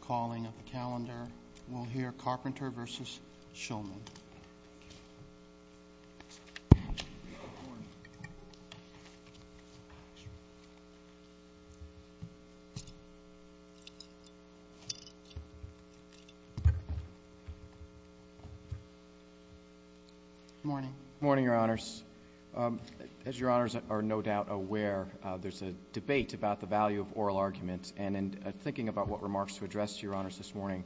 Good morning, Your Honors. As Your Honors are no doubt aware, there's a debate about the value of oral arguments and in thinking about what remarks to address to Your Honors this morning,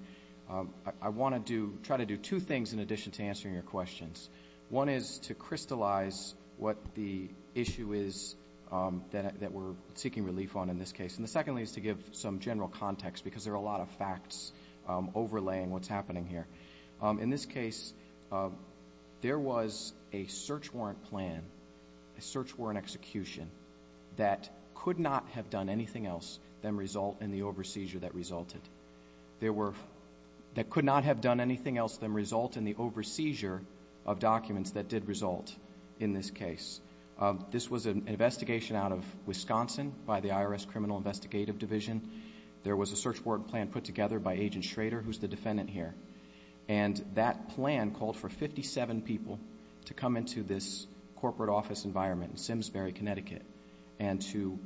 I want to try to do two things in addition to answering your questions. One is to crystallize what the issue is that we're seeking relief on in this case, and the second is to give some general context because there are a lot of facts overlaying what's happening here. In this case, there was a search warrant plan, a search warrant execution that could not have done anything else than result in the over-seizure that resulted. There were... that could not have done anything else than result in the over-seizure of documents that did result in this case. This was an investigation out of Wisconsin by the IRS Criminal Investigative Division. There was a search warrant plan put together by Agent Schrader, who's the defendant here, and that plan called for fifty-seven people to come into this corporate office environment in Simsbury, Connecticut, and to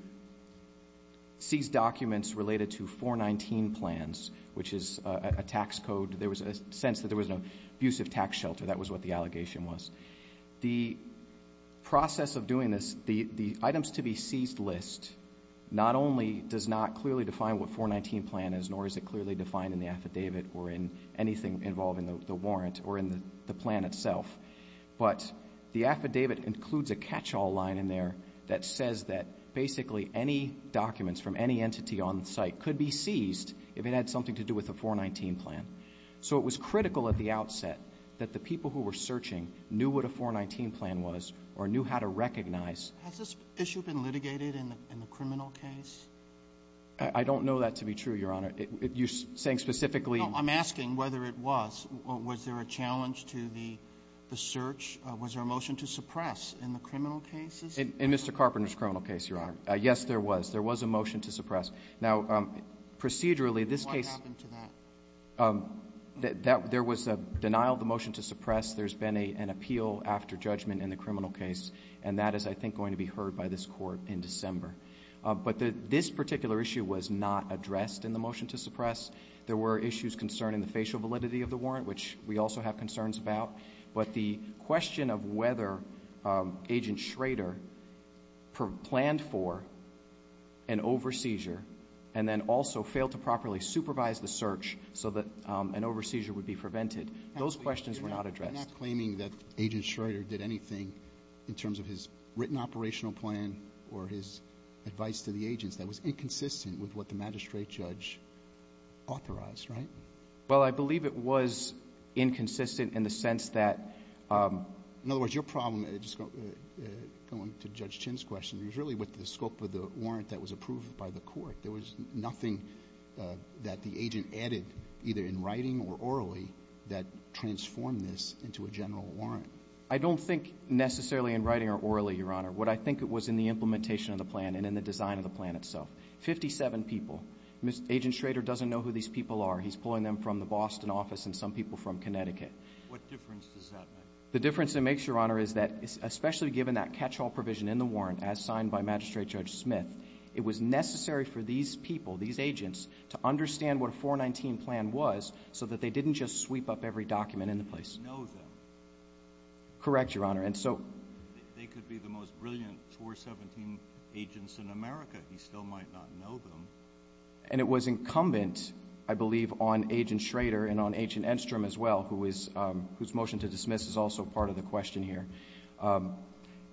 seize documents related to 419 plans, which is a tax code. There was a sense that there was an abusive tax shelter. That was what the allegation was. The process of doing this, the items to be seized list, not only does not clearly define what 419 plan is, nor is it clearly defined in the affidavit or in anything involving the warrant or in the plan itself, but the affidavit includes a catch-all line in there that says that basically any documents from any entity on site could be seized if it had something to do with a 419 plan. So it was critical at the outset that the people who were searching knew what a 419 plan was or knew how to recognize... Has this issue been litigated in the criminal case? I don't know that to be true, Your Honor. You're saying specifically... I'm asking whether it was. Was there a challenge to the search? Was there a motion to suppress in the criminal cases? In Mr. Carpenter's criminal case, Your Honor, yes, there was. There was a motion to suppress. Now, procedurally, this case... What happened to that? There was a denial of the motion to suppress. There's been an appeal after judgment in the criminal case, and that is, I think, going to be heard by this Court in December. But this particular issue was not addressed in the motion to suppress. There were issues concerning the facial validity of the warrant, which we also have concerns about. But the question of whether Agent Schrader planned for an over-seizure and then also failed to properly supervise the search so that an over-seizure would be prevented, those questions were not addressed. I'm not claiming that Agent Schrader did anything in terms of his written operational plan or his advice to the agents that was inconsistent with what the magistrate judge authorized, right? Well, I believe it was inconsistent in the sense that... In other words, your problem, going to Judge Chin's question, was really with the scope of the warrant that was approved by the Court. There was nothing that the agent added, either in writing or orally, that transformed this into a general warrant. I don't think necessarily in writing or orally, Your Honor. What I think it was in the implementation of the plan and in the design of the plan itself. Fifty-seven people. Agent Schrader doesn't know who these people are. He's pulling them from the Boston office and some people from Connecticut. What difference does that make? The difference it makes, Your Honor, is that especially given that catch-all provision in the warrant as signed by Magistrate Judge Smith, it was necessary for these people, these agents, to understand what a 419 plan was so that they didn't just sweep up every document in the place. Know them. Correct, Your Honor. And so they could be the most brilliant 417 agents in America. He still might not know them. And it was incumbent, I believe, on Agent Schrader and on Agent Enstrom as well, whose motion to dismiss is also part of the question here.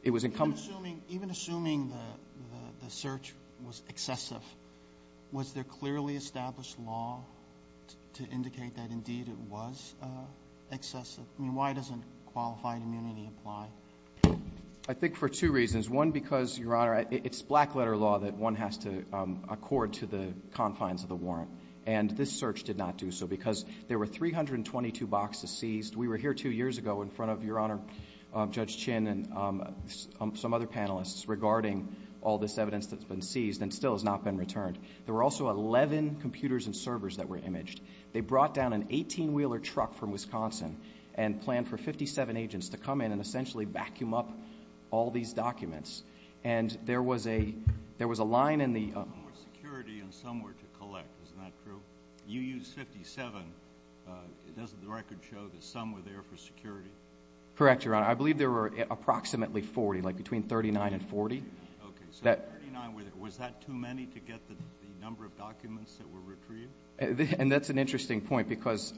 It was incumbent. Even assuming the search was excessive, was there clearly established law to indicate that indeed it was excessive? I mean, why doesn't qualified immunity apply? I think for two reasons. One, because, Your Honor, it's black-letter law that one has to accord to the confines of the warrant. And this search did not do so because there were 322 boxes seized. We were here two years ago in front of, Your Honor, Judge Chin and some other panelists regarding all this evidence that's been seized and still has not been returned. There were also 11 computers and servers that were imaged. They brought down an 18-wheeler truck from Wisconsin and planned for 57 agents to come in and essentially vacuum up all these documents. And there was a line in the— Some were security and some were to collect. Isn't that true? You used 57. Doesn't the record show that some were there for security? Correct, Your Honor. I believe there were approximately 40, like between 39 and 40. Okay. So 39, was that too many to get the number of documents that were retrieved? And that's an interesting point because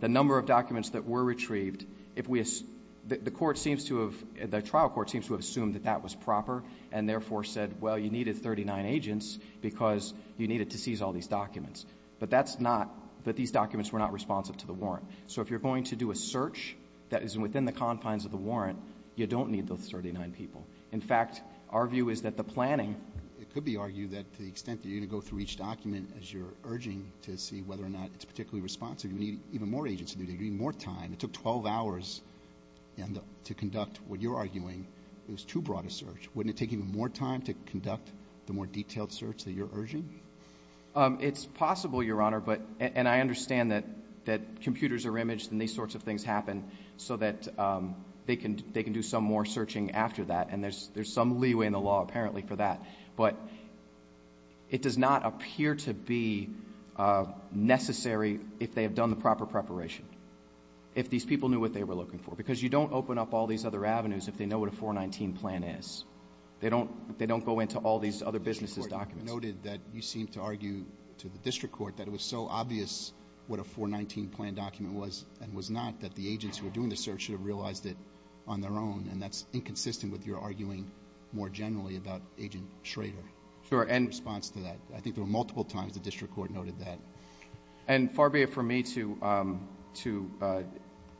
the number of documents that were retrieved, if we assume—the court seems to have—the trial court seems to have assumed that that was proper and therefore said, well, you needed 39 agents because you needed to seize all these documents. But that's not—that these documents were not responsive to the warrant. So if you're going to do a search that is within the confines of the warrant, you don't need those 39 people. In fact, our view is that the planning— It could be argued that to the extent that you're going to go through each document as you're urging to see whether or not it's particularly responsive, you need even more agents to do it. You need more time. It took 12 hours to conduct what you're arguing is too broad a search. Wouldn't it take even more time to conduct the more detailed search that you're urging? It's possible, Your Honor, but—and I understand that computers are imaged and these sorts of things happen so that they can do some more searching after that. And there's some leeway in the law apparently for that. But it does not appear to be necessary if they have done the proper preparation. If these people knew what they were looking for. Because you don't open up all these other avenues if they know what a 419 plan is. They don't go into all these other businesses' documents. The district court noted that you seemed to argue to the district court that it was so obvious what a 419 plan document was and was not that the agents who were doing the search should have realized it on their own. And that's inconsistent with your arguing more generally about Agent Schrader's response to that. I think there were multiple times the district court noted that. And far be it from me to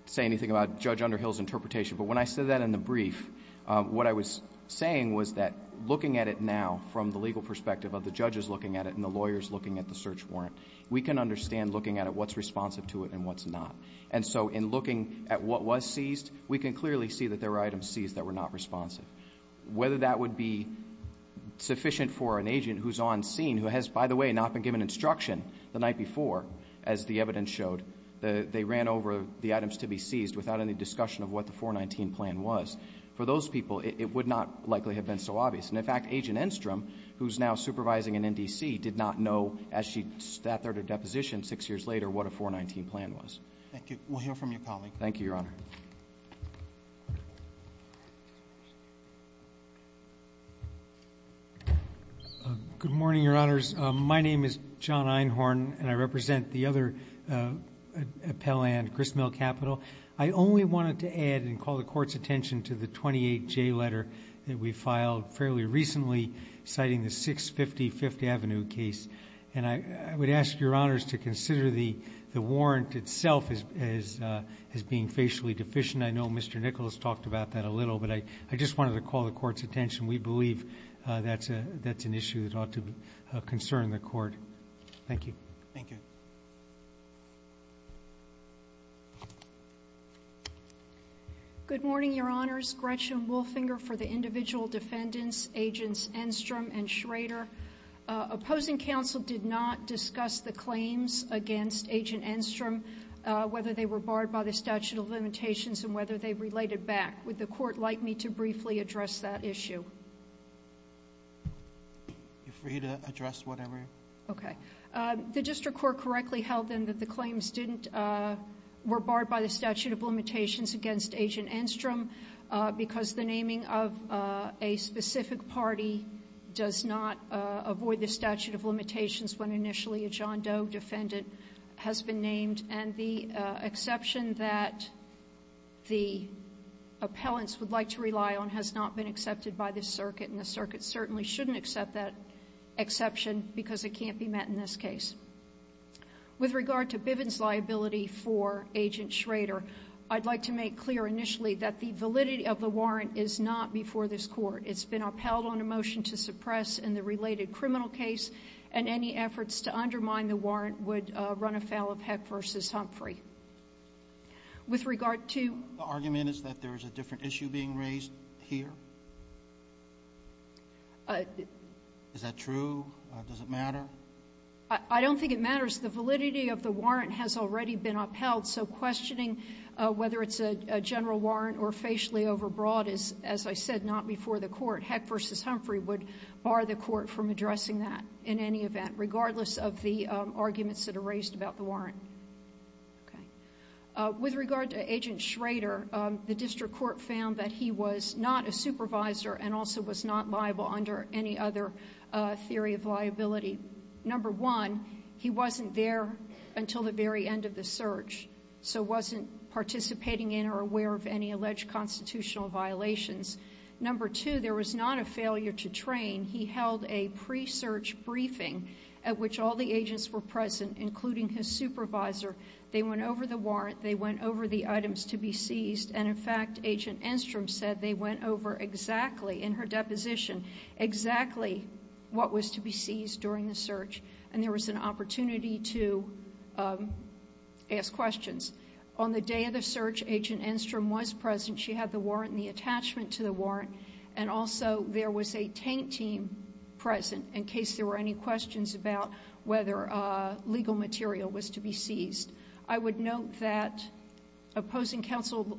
say anything about Judge Underhill's interpretation, but when I said that in the brief, what I was saying was that looking at it now from the legal perspective of the judges looking at it and the lawyers looking at the search warrant, we can understand looking at it what's responsive to it and what's not. And so in looking at what was seized, we can clearly see that there were items seized that were not responsive. Whether that would be sufficient for an agent who's on scene who has, by the way, not been given instruction the night before, as the evidence showed. They ran over the items to be seized without any discussion of what the 419 plan was. For those people, it would not likely have been so obvious. And in fact, Agent Enstrom, who's now supervising in NDC, did not know as she sat there to deposition six years later what a 419 plan was. Thank you. We'll hear from your colleague. Thank you, Your Honor. Good morning, Your Honors. My name is John Einhorn, and I represent the other appellant, Chris Mill Capital. I only wanted to add and call the court's attention to the 28J letter that we filed fairly recently citing the 650 Fifth Avenue case. And I would ask Your Honors to consider the warrant itself as being facially deficient. I know Mr. Nicholas talked about that a little, but I just wanted to call the court's attention. We believe that's an issue that ought to concern the court. Thank you. Thank you. Good morning, Your Honors. Gretchen Wolfinger for the individual defendants, Agents Enstrom and Schrader. Opposing counsel did not discuss the claims against Agent Enstrom, whether they were barred by the statute of limitations and whether they related back. Would the court like me to briefly address that issue? You're free to address whatever. Okay. The district court correctly held then that the claims were barred by the statute of limitations against Agent Enstrom because the naming of a specific party does not avoid the statute of limitations when initially a John Doe defendant has been named. And the exception that the appellants would like to rely on has not been accepted by this circuit and the circuit certainly shouldn't accept that exception because it can't be met in this case. With regard to Bivens' liability for Agent Schrader, I'd like to make clear initially that the validity of the warrant is not before this court. It's been upheld on a motion to suppress in the related criminal case and any efforts to undermine the warrant would run afoul of Heck v. Humphrey. With regard to The argument is that there is a different issue being raised here? Is that true? Does it matter? I don't think it matters. The validity of the warrant has already been upheld, so questioning whether it's a general warrant or facially overbroad is, as I said, not before the court. Heck v. Humphrey would bar the court from addressing that in any event, regardless of the arguments that are raised about the warrant. With regard to Agent Schrader, the district court found that he was not a supervisor and also was not liable under any other theory of liability. Number one, he wasn't there until the very end of the search, so wasn't participating in or aware of any alleged constitutional violations. Number two, there was not a failure to train. He held a pre-search briefing at which all the agents were present, including his supervisor. They went over the warrant, they went over the items to be seized, and in fact, Agent Schrader told us exactly, in her deposition, exactly what was to be seized during the search, and there was an opportunity to ask questions. On the day of the search, Agent Enstrom was present. She had the warrant and the attachment to the warrant, and also there was a tank team present in case there were any questions about whether legal material was to be seized. I would note that opposing counsel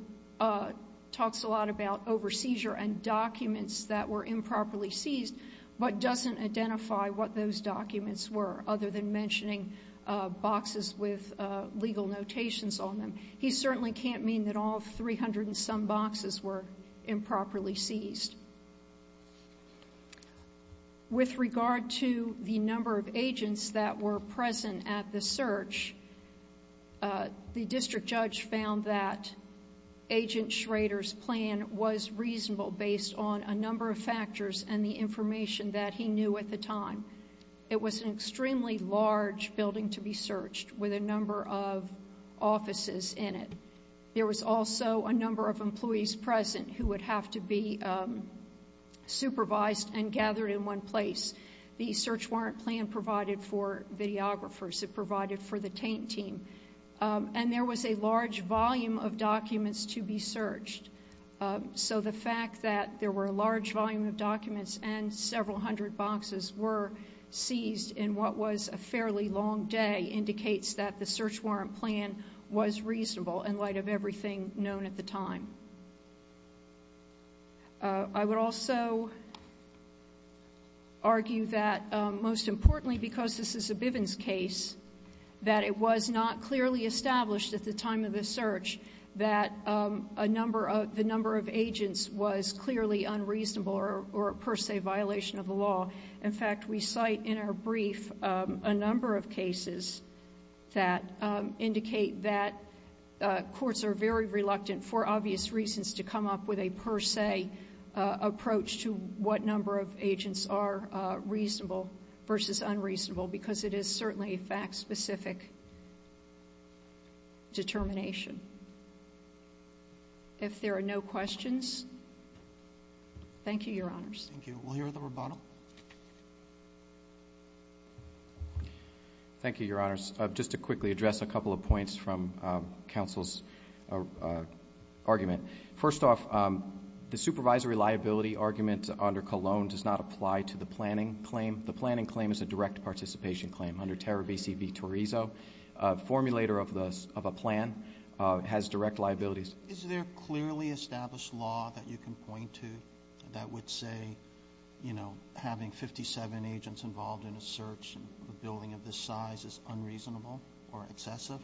talks a lot about over-seizure and documents that were improperly seized, but doesn't identify what those documents were, other than mentioning boxes with legal notations on them. He certainly can't mean that all 300 and some boxes were improperly seized. With regard to the number of agents that were present at the search, the district judge found that Agent Schrader's plan was reasonable based on a number of factors and the information that he knew at the time. It was an extremely large building to be searched with a number of offices in it. There was also a number of employees present who would have to be supervised and gathered in one place. The search warrant plan provided for videographers, it provided for the tank team, and there was a large volume of documents to be searched. So the fact that there were a large volume of documents and several hundred boxes were seized in what was a fairly long day indicates that the search warrant plan was reasonable in light of everything known at the time. I would also argue that most importantly, because this is a Bivens case, that it was not clearly established at the time of the search that the number of agents was clearly unreasonable or per se a violation of the law. In fact, we cite in our brief a number of cases that indicate that courts are very reluctant for obvious reasons to come up with a per se approach to what number of agents are reasonable versus unreasonable, because it is certainly a fact-specific determination. If there are no questions, thank you, Your Honors. Thank you. We'll hear the rebuttal. Thank you, Your Honors. Just to quickly address a couple of points from counsel's argument. First off, the supervisory liability argument under Cologne does not apply to the planning claim. The planning claim is a direct participation claim. Under Terror v. C. V. Torizo, a formulator of a plan has direct liabilities. Is there a clearly established law that you can point to that would say having 57 agents involved in a search, a building of this size, is unreasonable or excessive?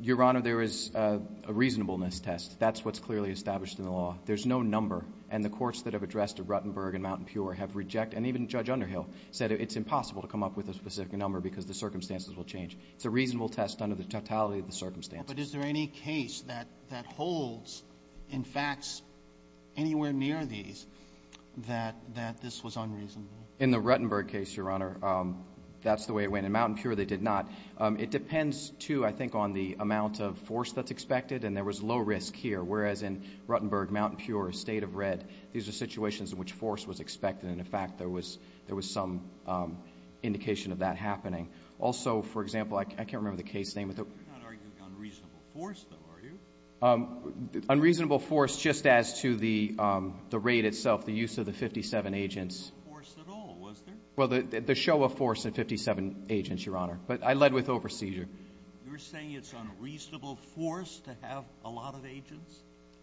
Your Honor, there is a reasonableness test. That's what's clearly established in the law. There's no number, and the courts that have addressed Ruttenberg and Mountain Pure have rejected, and even Judge Underhill said it's impossible to come up with a specific number because the circumstances will change. It's a reasonable test under the totality of the circumstances. But is there any case that holds, in fact, anywhere near these, that this was unreasonable? In the Ruttenberg case, Your Honor, that's the way it went. In Mountain Pure, they did not. It depends, too, I think, on the amount of force that's expected, and there was low risk here, whereas in Ruttenberg, Mountain Pure, State of Red, these are situations in which force was expected, and, in fact, there was some indication of that happening. Also, for example, I can't remember the case name. You're not arguing unreasonable force, though, are you? Unreasonable force, just as to the rate itself, the use of the 57 agents. There was no force at all, was there? Well, the show of force of 57 agents, Your Honor. But I led with overseasure. You're saying it's unreasonable force to have a lot of agents?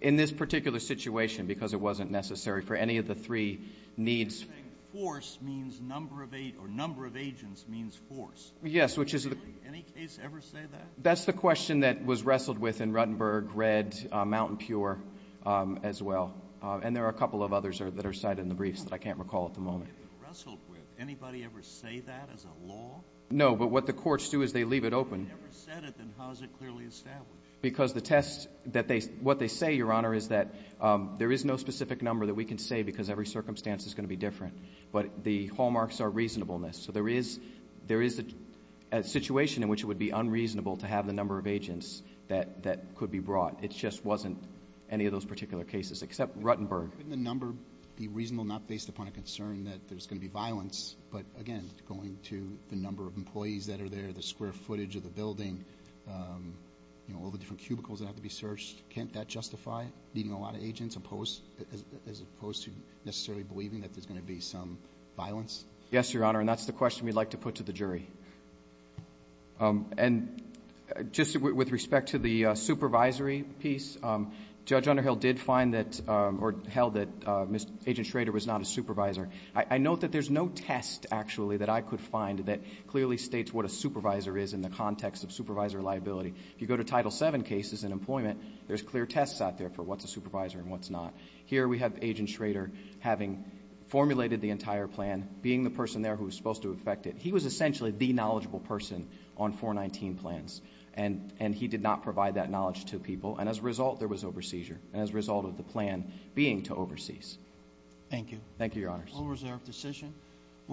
In this particular situation, because it wasn't necessary for any of the three needs You're saying force means number of agents, or number of agents means force. Yes, which is the Really? Any case ever say that? That's the question that was wrestled with in Ruttenberg, Red, Mountain Pure, as well, and there are a couple of others that are cited in the briefs that I can't recall at the moment. Wrestled with? Anybody ever say that as a law? No, but what the courts do is they leave it open. If they never said it, then how is it clearly established? Because the test that they, what they say, Your Honor, is that there is no specific number that we can say because every circumstance is going to be different, but the hallmarks are reasonableness. So there is, there is a situation in which it would be unreasonable to have the number of agents that could be brought. It just wasn't any of those particular cases, except Ruttenberg. Couldn't the number be reasonable not based upon a concern that there's going to be violence, but again, going to the number of employees that are there, the square footage of the building, you know, all the different cubicles that have to be searched, can't that justify needing a lot of agents as opposed to necessarily believing that there's going to be some violence? Yes, Your Honor, and that's the question we'd like to put to the jury. And just with respect to the supervisory piece, Judge Underhill did find that, or held that Agent Schrader was not a supervisor. I note that there's no test, actually, that I could find that clearly states what a supervisor is in the context of supervisor liability. If you go to Title VII cases in employment, there's clear tests out there for what's a supervisor and what's not. Here we have Agent Schrader having formulated the entire plan, being the person there who was supposed to effect it. He was essentially the knowledgeable person on 419 plans, and he did not provide that knowledge to people, and as a result, there was over-seizure, and as a result of the plan being to over-seize. Thank you. Thank you, Your Honors.